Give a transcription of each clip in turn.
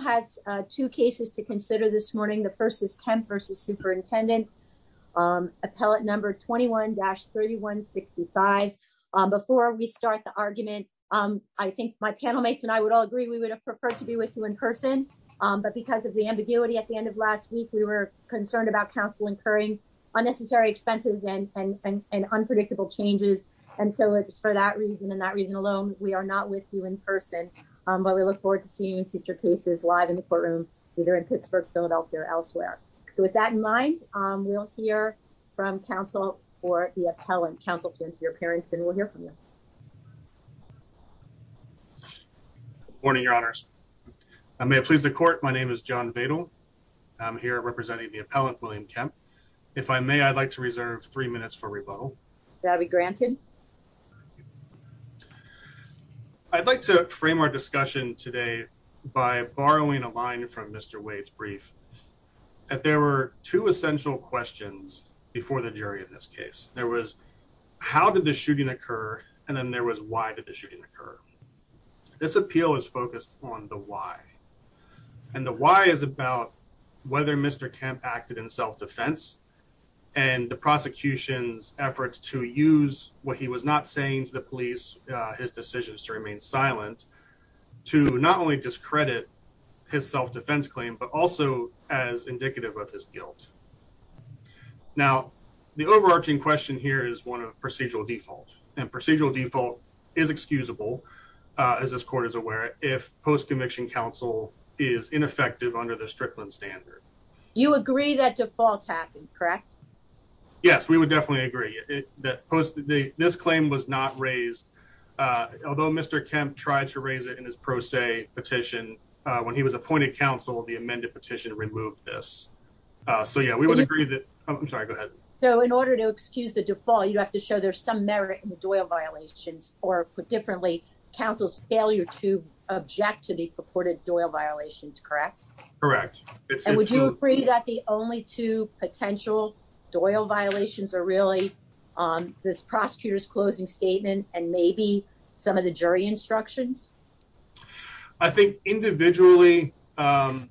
Council has two cases to consider this morning. The first is Kemp v. Superintendent, appellate number 21-3165. Before we start the argument, I think my panel mates and I would all agree we would have preferred to be with you in person, but because of the ambiguity at the end of last week, we were concerned about council incurring unnecessary expenses and unpredictable changes. And so it's for that reason and that reason alone, we are not with you in person, but we look forward to seeing you in future cases live in the courtroom, either in Pittsburgh, Philadelphia or elsewhere. So with that in mind, we'll hear from council or the appellant, counsel to your parents and we'll hear from you. Morning, your honors. I may have pleased the court. My name is John Vadle. I'm here representing the appellant, William Kemp. If I may, I'd like to reserve three minutes for rebuttal be granted. I'd like to frame our discussion today by borrowing a line from Mr Wade's brief that there were two essential questions before the jury. In this case, there was how did the shooting occur? And then there was why did the shooting occur? This appeal is focused on the why and the why is about whether Mr Kemp acted in self defense and the prosecution's efforts to use what he was not saying to the police, his decisions to remain silent to not only discredit his self defense claim, but also as indicative of his guilt. Now, the overarching question here is one of procedural default and procedural default is excusable as this court is aware, if post conviction counsel is ineffective under the Strickland standard, you agree that default happened, correct? Yes, we would definitely agree that this claim was not raised. Uh, although Mr Kemp tried to raise it in his pro se petition when he was appointed counsel, the amended petition removed this. Uh, so, yeah, we would agree that I'm sorry. Go ahead. So in order to excuse the default, you have to show there's some merit in the Doyle violations or put differently. Council's failure to object to the purported Doyle violations, correct? Correct. Would you agree that the only two potential Doyle violations are really, um, this prosecutor's closing statement and maybe some of the jury instructions? I think individually, um,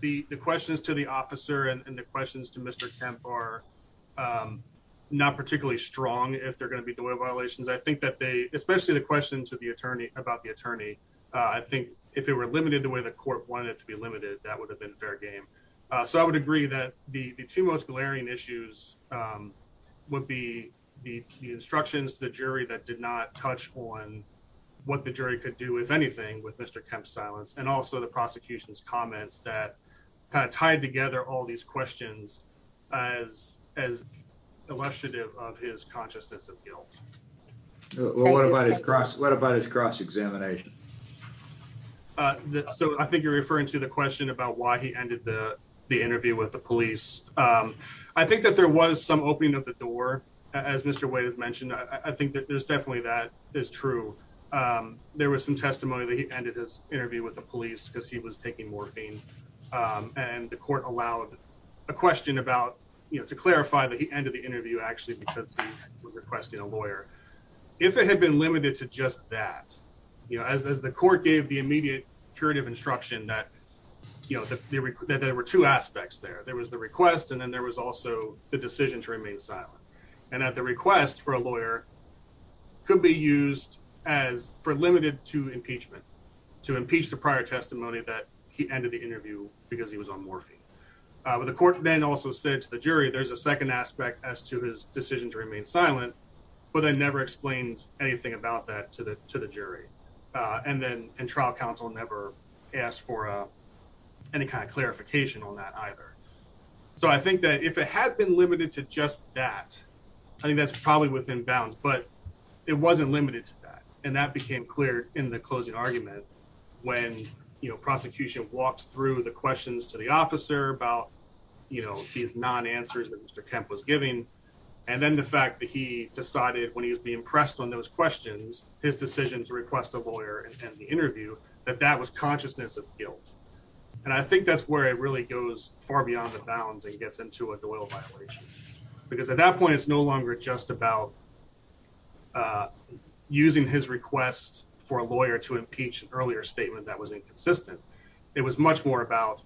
the questions to the officer and the questions to Mr Kemp are, um, not particularly strong. If they're gonna be doing violations, I think that they especially the question to the attorney about the attorney. I think if it were limited the way the court wanted to be limited, that would have been fair game. So I would agree that the two most glaring issues, um, would be the instructions to the jury that did not touch on what the jury could do, if anything, with Mr Kemp's silence and also the prosecution's comments that kind of tied together all these questions as as illustrative of his consciousness of guilt. What about his cross? What about his cross examination? Uh, so I think you're referring to the question about why he ended the interview with the police. Um, I think that there was some opening of the door. As Mr Wade has mentioned, I think that there's definitely that is true. Um, there was some testimony that he ended his interview with the police because he was taking morphine. Um, and the court allowed a question about to clarify that he ended the interview actually because he was requesting a lawyer if it had been limited to just that, you know, as the court gave the immediate curative instruction that you know that there were two aspects there. There was the request and then there was also the decision to remain silent and that the request for a lawyer could be used as for limited to impeachment to impeach the prior testimony that he ended the interview because he was on morphine. But the court then also said to the jury, there's a second aspect as to his decision to remain silent, but I never explained anything about that to the to the jury. Uh, and then and trial counsel never asked for any kind of clarification on that either. So I think that if it had been limited to just that, I think that's probably within bounds, but it wasn't limited to that. And that became clear in the closing argument when, you know, prosecution walks through the questions to the officer about, you know, these non answers that Mr Kemp was giving. And then the fact that he decided when he was being pressed on those questions, his decision to request a lawyer and the interview that that was consciousness of guilt. And I think that's where it really goes far beyond the bounds and gets into a little violation because at that point it's no longer just about, uh, using his request for a lawyer to impeach earlier statement that was inconsistent. It was much more about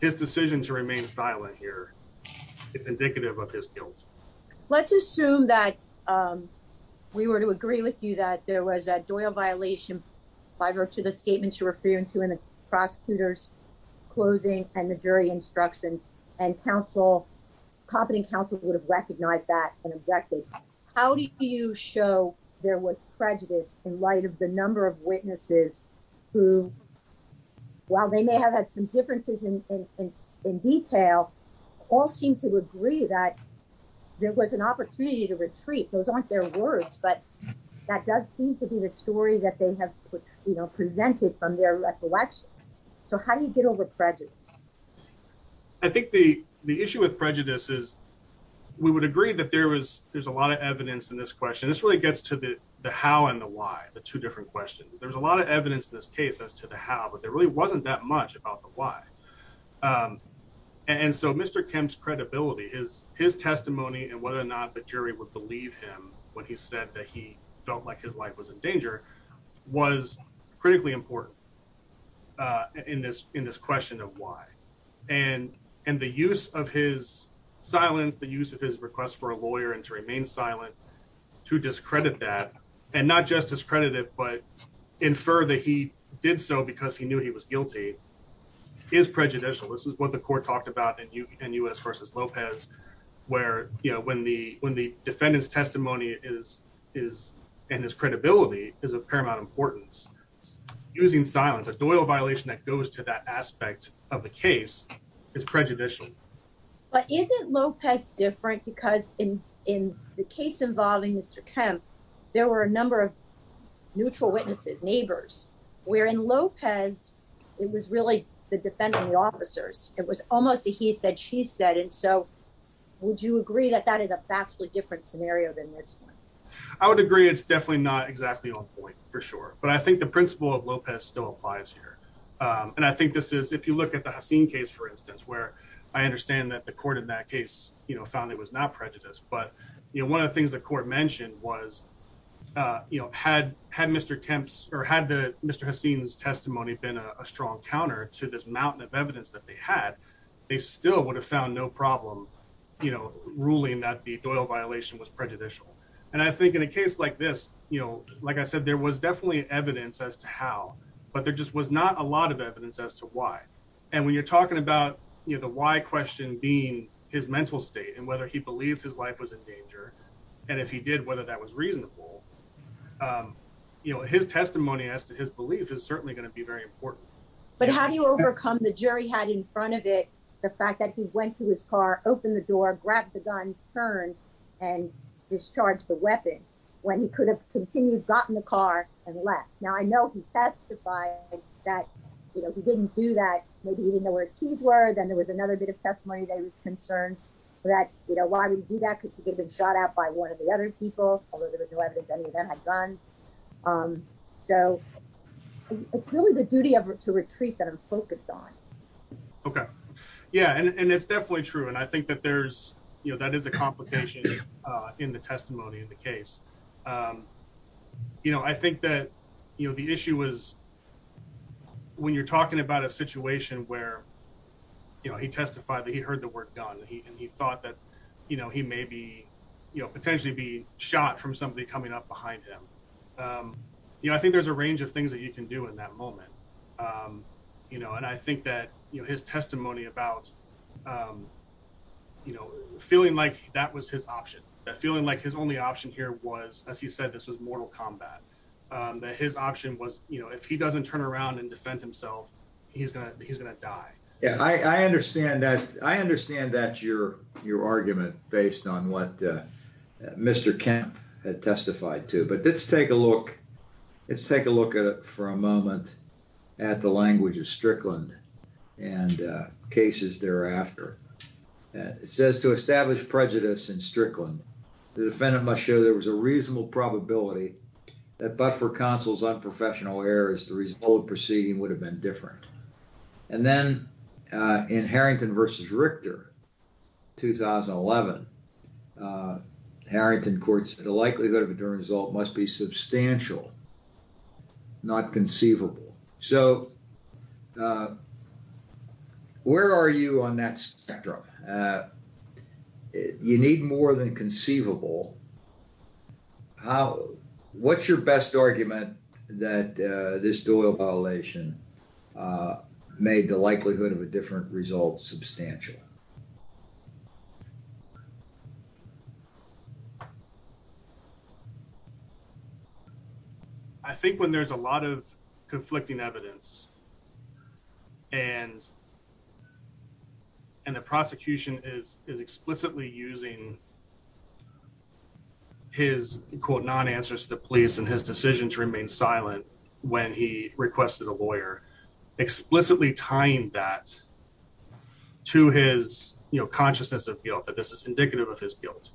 his decision to remain silent here. It's indicative of his guilt. Let's assume that, um, we were to agree with you that there was a Doyle violation by virtue of the statements you're referring to in the prosecutor's closing and the jury instructions and counsel company council would have recognized that and objected. How do you show there was prejudice in light of the number of witnesses who, while they may have had some differences in detail, all seem to agree that there was an opportunity to retreat. Those aren't their words, but that does seem to be the story that they have presented from their recollections. So how do you get over prejudice? I think the, the issue with prejudice is we would agree that there was, there's a lot of evidence in this question. This really gets to the, the how and the why the two different questions. There was a lot of evidence in this case as to the how, but there really wasn't that much about the why. Um, and so Mr. Kim's credibility is his testimony and whether or not the jury would believe him when he said that he felt like his life was in danger was critically important, uh, in this, in this question of why and, and the use of his silence, the use of his request for a lawyer and to remain silent to discredit that and not just as credited, but infer that he did so because he knew he was guilty is prejudicial. This is what the court talked about and you and us versus Lopez where, you know, when the, when the defendant's testimony is, is, and his credibility is a paramount importance using silence, a doyle violation that goes to that aspect of the case is prejudicial, but isn't Lopez different because in, in the case involving Mr. Kim, there were a number of neutral witnesses, neighbors, where in Lopez, it was really the you agree that that is a vastly different scenario than this one. I would agree it's definitely not exactly on point for sure, but I think the principle of Lopez still applies here. Um, and I think this is, if you look at the scene case, for instance, where I understand that the court in that case, you know, found it was not prejudice, but one of the things the court mentioned was, uh, you know, had, had Mr. Kemp's or had the Mr. Haseen's testimony been a strong counter to this mountain of evidence that they had, they still would have found no problem, you know, ruling that the doyle violation was prejudicial. And I think in a case like this, you know, like I said, there was definitely evidence as to how, but there just was not a lot of evidence as to why. And when you're talking about, you know, the why question being his mental state and whether he believed his life was in danger. And if he did, whether that was reasonable, um, you know, his testimony as to his belief is certainly going to be very important, but how do you overcome the jury had in front of it, the fact that he went to his car, opened the door, grabbed the gun, turn and discharge the weapon when he could have continued, gotten the car and left. Now, I know he testified that he didn't do that. Maybe he didn't know where his keys were. Then there was another bit of testimony that he was concerned that, you know, why would he do that? Because he could have been shot out by one of the other people, although there was no evidence, any of them had guns. Um, so it's really the duty of to retreat that I'm focused on. Okay. Yeah. And it's definitely true. And I think that there's, you know, that is a complication in the testimony in the case. Um, you know, I think that, you know, the issue was when you're talking about a situation where, you know, he testified that he heard the word gun and he thought that, you know, he may be, you know, potentially be shot from somebody coming up behind him. Um, you know, I think there's a range of things that you can do in that moment. Um, you know, and I think that, you know, his testimony about, um, you know, feeling like that was his option, feeling like his only option here was, as he said, this was mortal combat. Um, that his option was, you know, if he doesn't turn around and defend himself, he's gonna, he's gonna die. Yeah, I understand that. I understand that your your argument based on what Mr Camp had testified to. But let's take a look. Let's take a moment at the language of Strickland and cases thereafter. It says to establish prejudice in Strickland, the defendant must show there was a reasonable probability that but for counsel's unprofessional errors, the result of the proceeding would have been different. And then, uh, in Harrington versus Richter 2011, uh, Harrington courts, the likelihood of a jury result must be substantial, not conceivable. So, uh, where are you on that spectrum? Uh, you need more than conceivable. How, what's your best argument that, uh, this I think when there's a lot of conflicting evidence and and the prosecution is explicitly using his quote non answers to police and his decision to remain silent when he requested a lawyer explicitly tying that to his consciousness of guilt that this is indicative of his guilt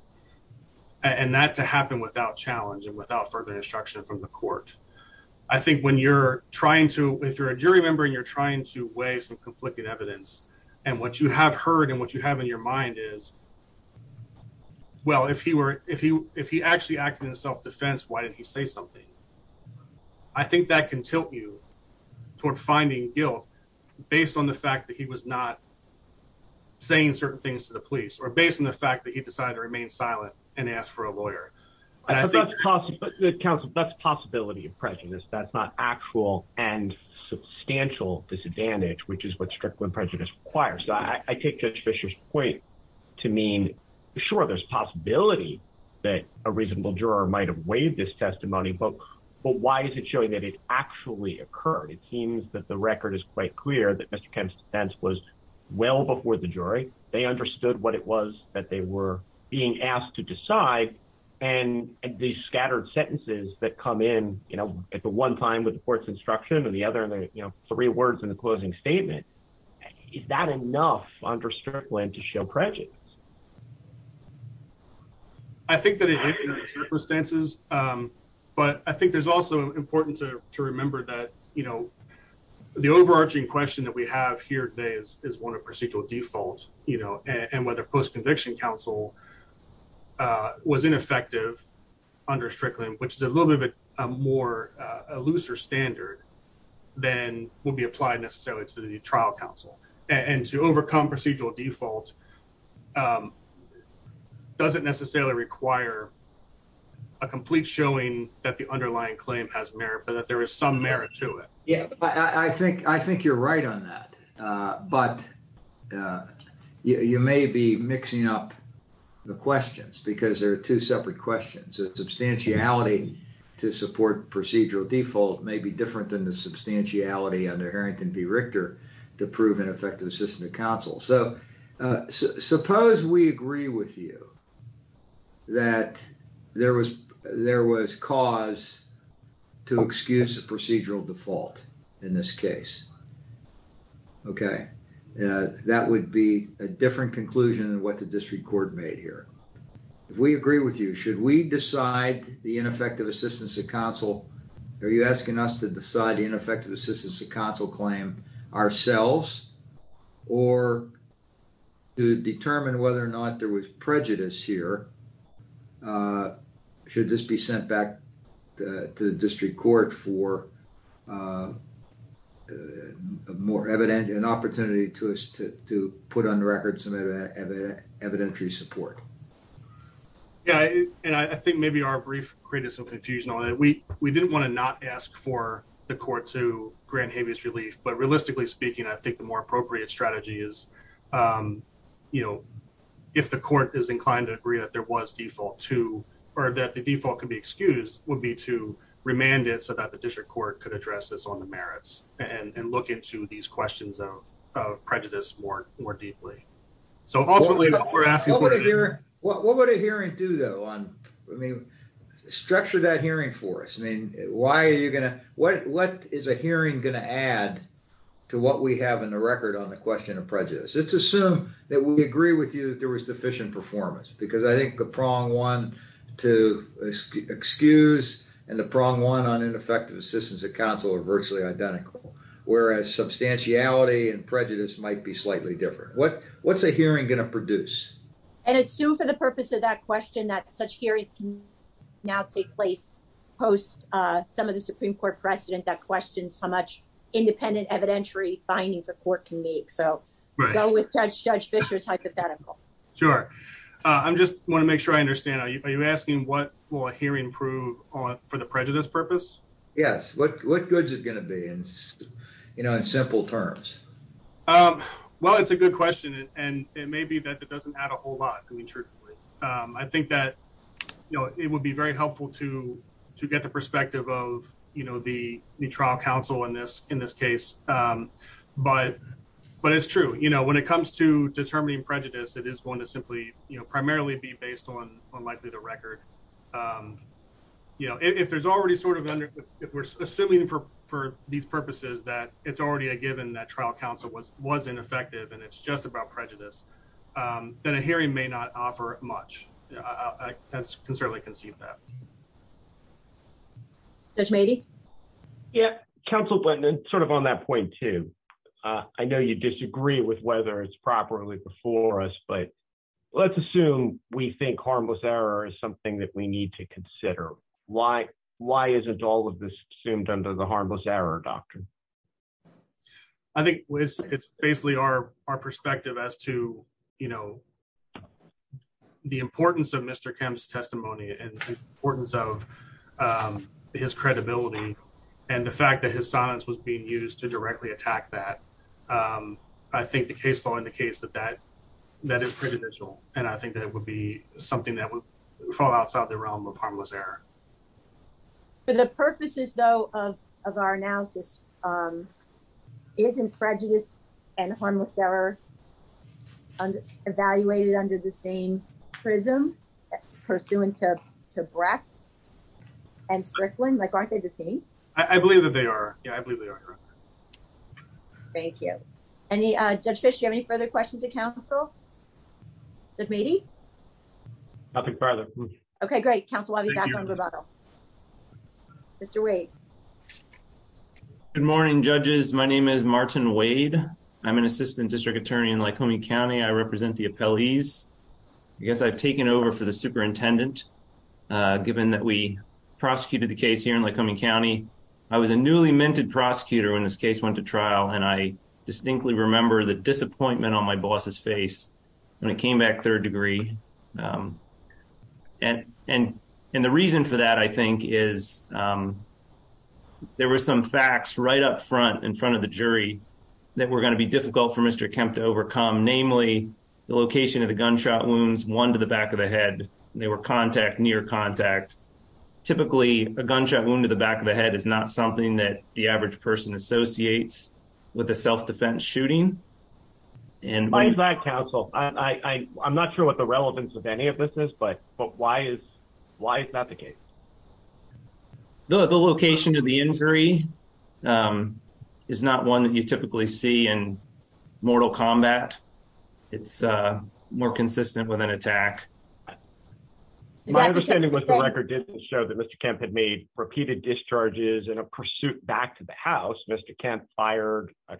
and that to happen without challenge and without further instruction from the court. I think when you're trying to, if you're a jury member and you're trying to weigh some conflicting evidence and what you have heard and what you have in your mind is, well, if he were, if he, if he actually acted in self defense, why did he say something? I think that can tilt you toward finding guilt based on the fact that he was not saying certain things to the police or based on the fact that he decided to remain silent and ask for a lawyer. I think that's possible. The council, that's possibility of prejudice. That's not actual and substantial disadvantage, which is what strict when prejudice requires. So I take judge Fisher's point to mean sure, there's possibility that a reasonable juror might have waived this testimony book, but why is it showing that it actually occurred? It seems that the record is quite clear that Mr Kemp's stance was well before the jury. They understood what it was that they were being asked to decide. And these scattered sentences that come in at the one time with the court's instruction and the other three words in the closing statement, is that enough understripping to show prejudice? I think that circumstances, but I think there's also important to remember that, you know, the overarching question that we have here today is one of procedural default, you know, and whether post conviction council, uh, was ineffective under strictly, which is a little bit more looser standard than will be applied necessarily to the trial council and to overcome procedural default, um, doesn't necessarily require a complete showing that the underlying claim has merit, but that there is some merit to it. Yeah, I think, I think you're right on that. Uh, but, uh, you may be mixing up the questions because there are two separate questions that substantiality to support procedural default may be different than the substantiality under Harrington B. Richter to prove an effective assistance of counsel. So, uh, suppose we agree with you that there was, there was cause to excuse the procedural default in this case. Okay. Uh, that would be a different conclusion than what the district court made here. If we agree with you, should we decide the ineffective assistance of counsel? Are you asking us to decide the ineffective assistance of counsel claim ourselves or to determine whether or not there was prejudice here? Uh, should this be sent back to the district court for, uh, more evident an opportunity to us to put on the record some evident evidentiary support? Yeah. And I think maybe our brief created some confusion on it. We, we didn't want to not ask for the court to grant habeas relief, but realistically speaking, I think the more appropriate strategy is, um, you know, if the court is inclined to agree that there was default to, or that the default could be excused would be to remand it so that the district court could address this on the merits and look into these questions of prejudice more, more deeply. So ultimately we're asking What would a hearing do though on, I mean, structure that hearing for us. I mean, why are you going to, what, what is a hearing going to add to what we have in the record on the question of prejudice? Let's assume that we agree with you that there was deficient performance because I think the prong one to excuse and the prong one on ineffective assistance of counsel are virtually identical, whereas substantiality and prejudice might be slightly different. What, what's a hearing going to produce and assume for the purpose of that question that such hearings now take place post some of the Supreme Court precedent that questions how much independent evidentiary findings of court can make. So go with judge judge Fisher's hypothetical. Sure. I'm just want to make sure I understand. Are you asking what will a hearing prove on for the prejudice purpose? Yes. What, what goods is going to be in, you know, in simple terms? Um, well, it's a good question and it may be that it doesn't add a whole lot. I mean, truthfully, um, I think that, you know, it would be very helpful to, to get the perspective of, you know, the, the trial counsel in this, in this case. Um, but, but it's true, you know, when it comes to determining prejudice, it is going to simply, you know, primarily be based on unlikely the record. Um, you know, if there's already sort of under, if we're assuming for, for these purposes, that it's already a given that trial counsel was, wasn't effective and it's just about prejudice, um, then a hearing may not offer much. I can certainly conceive that. Judge maybe. Yeah. Counsel, but sort of on that point too, uh, I know you disagree with whether it's properly before us, but let's assume we think harmless error is something that we need to consider. Why, why isn't all of this assumed under the harmless error doctrine? I think it's basically our, our perspective as to, you know, the importance of Mr. Kemp's testimony and the importance of, um, his credibility and the fact that his silence was being used to directly attack that. Um, I think the case law indicates that that is pretty visual. And I think that it would be something that would fall outside the realm of harmless error for the purposes though, of, of our analysis. Um, isn't prejudice and harmless error evaluated under the same prism pursuant to breath and strickling? Like, aren't they the same? I believe that they are. Yeah, I believe they are. Thank you. Any, uh, judge fish, you have any further questions of council that maybe I'll take further. Okay, great. Council. I'll be back on the bottle. Mr Wade. Good morning, judges. My name is Martin Wade. I'm an assistant district attorney in Lycoming County. I represent the appellees. I guess I've taken over for the superintendent. Uh, given that we prosecuted the case here in Lycoming County, I was a newly minted prosecutor when this case went to trial. And I distinctly remember the disappointment on my boss's face when it came back third degree. Um, and, and, and the reason for that, I think, is, um, there was some facts right up front in front of the jury that we're going to be difficult for Mr Kemp to overcome, namely the location of the gunshot wounds, one to the back of the head. They were contact near contact. Typically, a gunshot wound to the back of the head is not something that the with a self defense shooting. And why is that, Council? I'm not sure what the relevance of any of this is. But why is why is that the case? The location of the injury, um, is not one that you typically see in mortal combat. It's more consistent with an attack. My understanding was the record didn't show that Mr Kemp had made repeated discharges in a pursuit back to the house, Mr. Kemp fired, as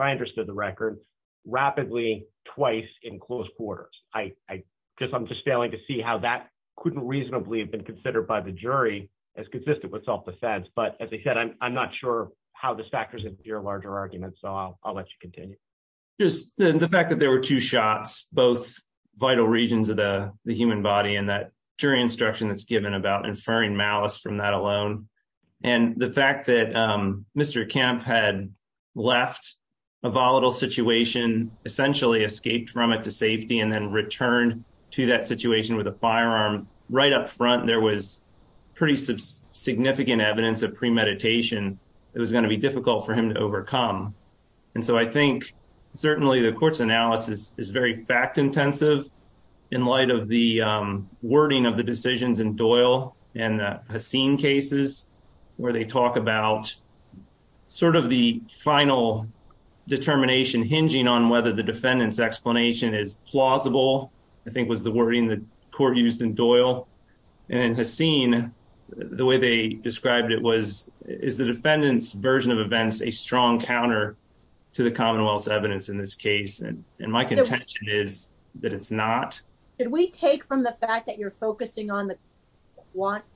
I understood the record, rapidly twice in close quarters. I guess I'm just failing to see how that couldn't reasonably have been considered by the jury as consistent with self defense. But as I said, I'm not sure how this factors into your larger argument. So I'll let you continue. Just the fact that there were two shots, both vital regions of the human body and that jury instruction that's given about inferring malice from that alone. And the fact that Mr. Kemp had left a volatile situation, essentially escaped from it to safety and then returned to that situation with a firearm right up front, there was pretty significant evidence of premeditation. It was going to be difficult for him to overcome. And so I think certainly the court's analysis is very fact intensive in light of the wording of the decisions in Doyle and has seen cases where they talk about sort of the final determination hinging on whether the defendant's explanation is plausible, I think was the wording the court used in Doyle and has seen the way they described it was is the defendant's version of events a strong counter to the Commonwealth's evidence in this case. And my contention is that it's not. Did we take from the fact that you're focusing on the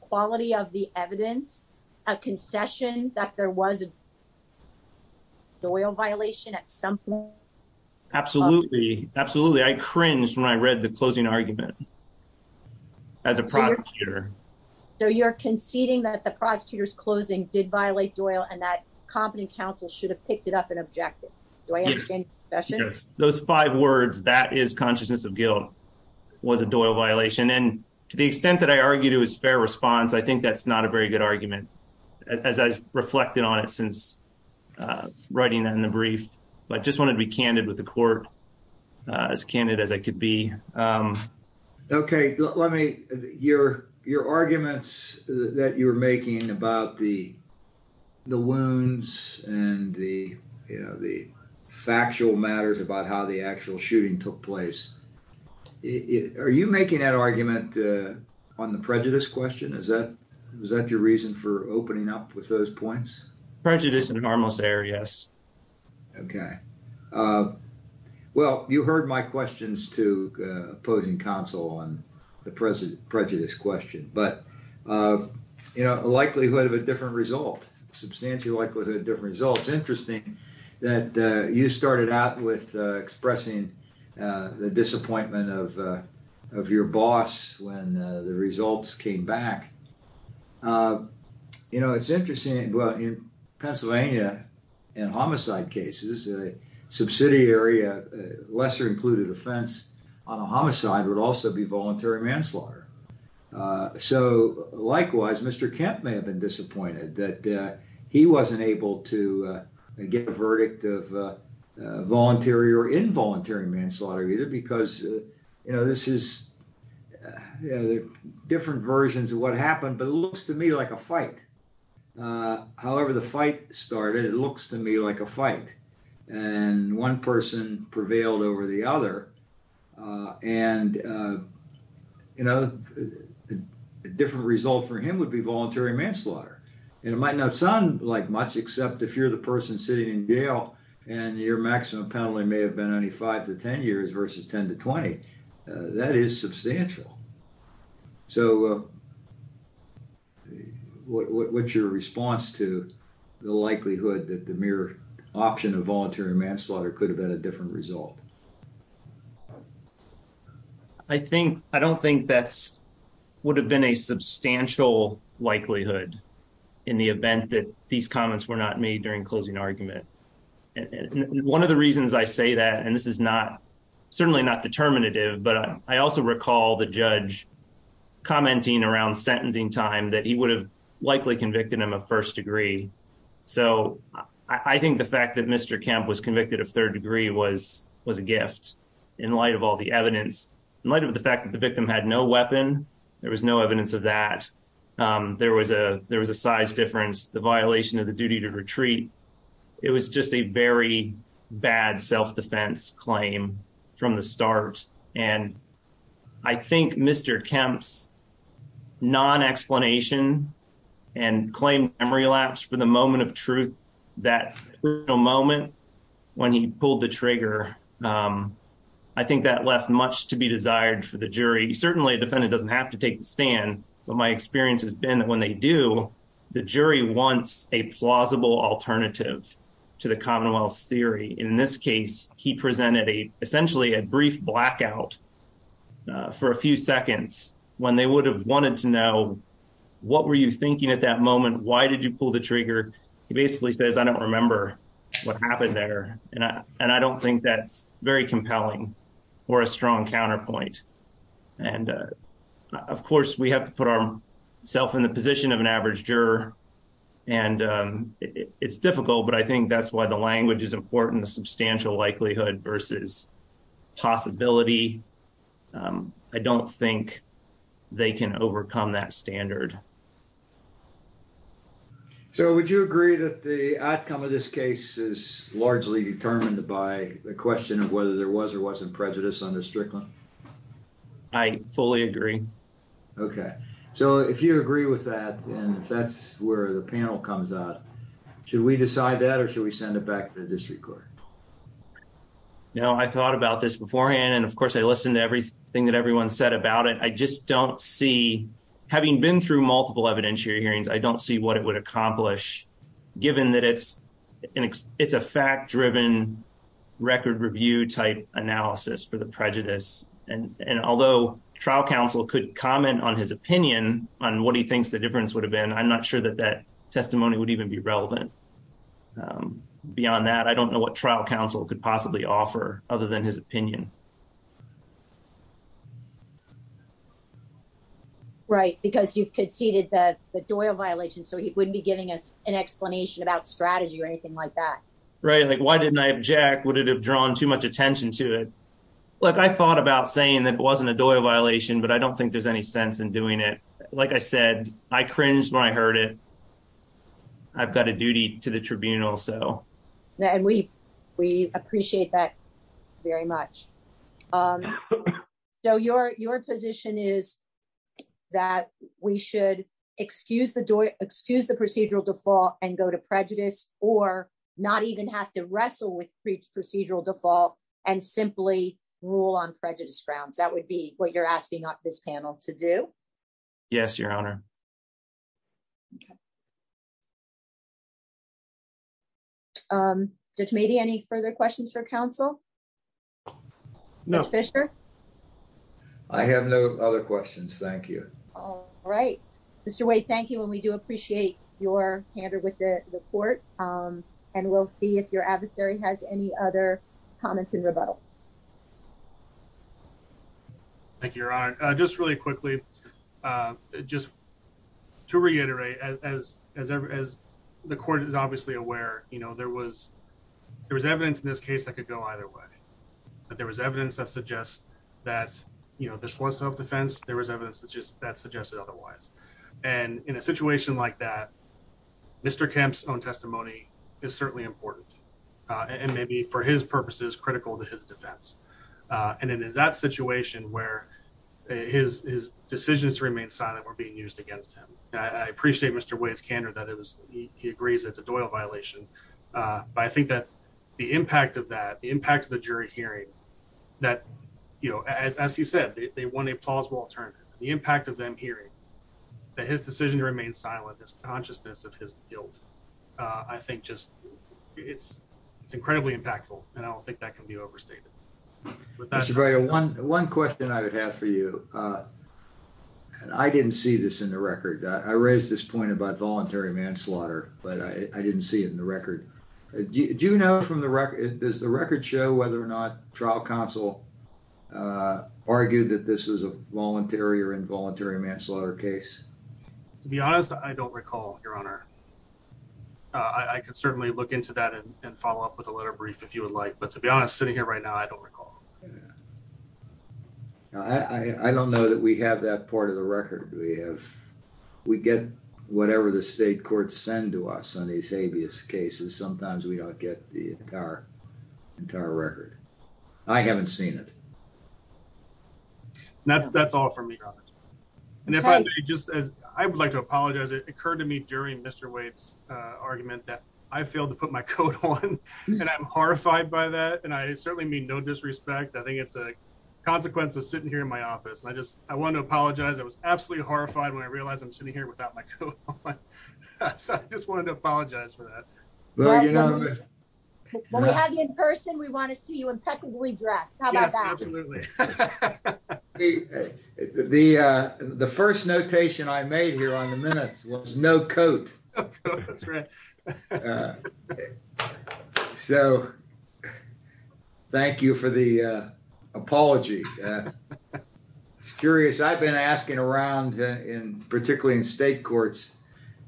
quality of the evidence, a concession that there was a Doyle violation at some point? Absolutely. Absolutely. I cringed when I read the closing argument as a prosecutor. So you're conceding that the prosecutor's closing did violate Doyle and that yes, those five words that is consciousness of guilt was a Doyle violation. And to the extent that I argue to his fair response, I think that's not a very good argument, as I reflected on it since writing that in the brief, but just wanted to be candid with the court as candid as I could be. Okay, let me hear your arguments that you're making about the wounds and the factual matters about how the actual shooting took place. Are you making that argument on the prejudice question? Is that your reason for opening up with those points? Prejudice in an armless error, yes. Okay. Well, you heard my questions to opposing counsel on the prejudice question, but a likelihood of a different result, substantial likelihood of different results. Interesting that you started out with expressing the disappointment of your boss when the results came back. It's interesting in Pennsylvania and homicide cases, a subsidiary, lesser included offense on a homicide would also be voluntary manslaughter. So likewise, Mr. Kemp may have been disappointed that he wasn't able to get a verdict of voluntary or involuntary manslaughter, because this is different versions of what happened, but it looks to me like a fight. However, the fight started, it looks to me like a fight. And one person prevailed over the other. And a different result for him would be voluntary manslaughter. And it might not sound like much, except if you're the person sitting in jail and your maximum penalty may have been only five to 10 years versus 10 to 20, that is substantial. So what's your response to the likelihood that the mere option of voluntary manslaughter could have been a different result? I don't think that would have been a substantial likelihood in the event that these comments were made during closing argument. And one of the reasons I say that, and this is certainly not determinative, but I also recall the judge commenting around sentencing time that he would have likely convicted him of first degree. So I think the fact that Mr. Kemp was convicted of third degree was a gift in light of all the evidence. In light of the fact that the victim had no weapon, there was no evidence of that. There was a size difference, the violation of duty to retreat. It was just a very bad self-defense claim from the start. And I think Mr. Kemp's non-explanation and claim memory lapse for the moment of truth, that real moment when he pulled the trigger, I think that left much to be desired for the jury. Certainly a defendant doesn't have to take the stand, but my experience has been that when they do, the jury wants a plausible alternative to the Commonwealth's theory. In this case, he presented essentially a brief blackout for a few seconds when they would have wanted to know, what were you thinking at that moment? Why did you pull the trigger? He basically says, I don't remember what happened there. And I don't think that's very compelling or a strong counterpoint. And of course, we have to put ourselves in the position of an average juror. And it's difficult, but I think that's why the language is important, the substantial likelihood versus possibility. I don't think they can overcome that standard. So would you agree that the outcome of this case is largely determined by the question of whether there was or wasn't prejudice under Strickland? I fully agree. Okay. So if you agree with that, and if that's where the panel comes out, should we decide that or should we send it back to the district court? No, I thought about this beforehand. And of course, I listened to everything that everyone said about it. I just don't see, having been through multiple evidentiary hearings, I don't see what it would accomplish given that it's a fact-driven record review type analysis for the prejudice. And although trial counsel could comment on his opinion on what he thinks the difference would have been, I'm not sure that that testimony would even be relevant. Beyond that, I don't know what trial counsel could possibly offer other than his opinion. Right. Because you've conceded that the Doyle violation, so he wouldn't be giving us an explanation about strategy or anything like that. Right. Like, why didn't I object? Would it have drawn too much attention to it? Like, I thought about saying that it wasn't a Doyle violation, but I don't think there's any sense in doing it. Like I said, I cringed when I heard it. I've got a duty to the tribunal, so. And we appreciate that very much. So your position is that we should excuse the procedural default and go to prejudice, or not even have to wrestle with procedural default and simply rule on prejudice grounds. That would be what you're asking this panel to do? Yes, Your Honor. Judge Mady, any further questions for counsel? No. Judge Fischer? I have no other questions. Thank you. All right. Mr. Wade, thank you. And we do appreciate your hander with the report. And we'll see if your adversary has any other comments in rebuttal. Thank you, Your Honor. Just really quickly, just to reiterate, as the court is obviously aware, you know, there was evidence in this case that could go either way. But there was evidence that suggests that, you know, this was self-defense. There was evidence that suggested otherwise. And in a situation like that, Mr. Kemp's own testimony is certainly important. And maybe for his purposes, critical to his defense. And in that situation where his decisions to remain silent were being used against him, I appreciate Mr. Wade's candor that he agrees it's a Doyle violation. But I think that the impact of that, the impact of the jury hearing that, you know, as he said, they want a plausible alternative. The impact of them hearing that his decision to remain silent, his consciousness of his guilt, I think just it's incredibly impactful. And I don't think that can be overstated. Mr. Barrio, one question I would have for you. I didn't see this in the record. I raised this point about voluntary manslaughter, but I didn't see it in the record. Do you know from the record, does the record show whether or not trial counsel argued that this was a voluntary or involuntary manslaughter case? To be honest, I don't recall, Your Honor. I could certainly look into that and follow up with a letter brief if you would like. But to be honest, sitting here right now, I don't recall. I don't know that we have that part of the record. We have, we get whatever the state courts send to us on these habeas cases. Sometimes we don't get the entire entire record. I haven't heard that. I would like to apologize. It occurred to me during Mr. Waite's argument that I failed to put my coat on and I'm horrified by that. And I certainly mean no disrespect. I think it's a consequence of sitting here in my office. And I just, I want to apologize. I was absolutely horrified when I realized I'm sitting here without my coat on. So I just wanted to apologize for that. When we have you in person, we want to see you impeccably dressed. How about that? Absolutely. The first notation I made here on the minutes was no coat. So thank you for the apology. It's curious. I've been asking around in, particularly in state courts.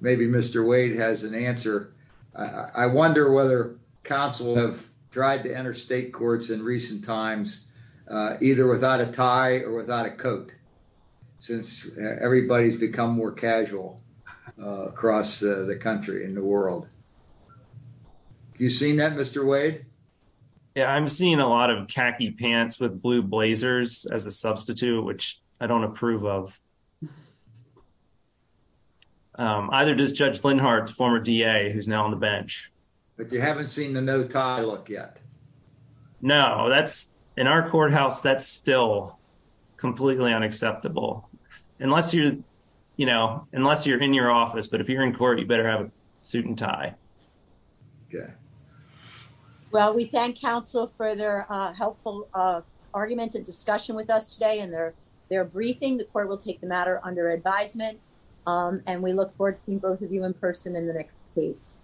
Maybe Mr. Waite has an answer. I wonder whether counsel have tried to enter state courts in recent times, uh, either without a tie or without a coat since everybody's become more casual, uh, across the country in the world. You seen that Mr. Wade? Yeah, I'm seeing a lot of khaki pants with blue blazers as a substitute, which I don't approve of. Um, either does Judge that's in our courthouse. That's still completely unacceptable unless you're, you know, unless you're in your office. But if you're in court, you better have a suit and tie. Okay. Well, we thank counsel for their, uh, helpful, uh, arguments and discussion with us today and their, their briefing. The court will take the matter under advisement. Um, and we look forward to seeing both of you in person in the next place.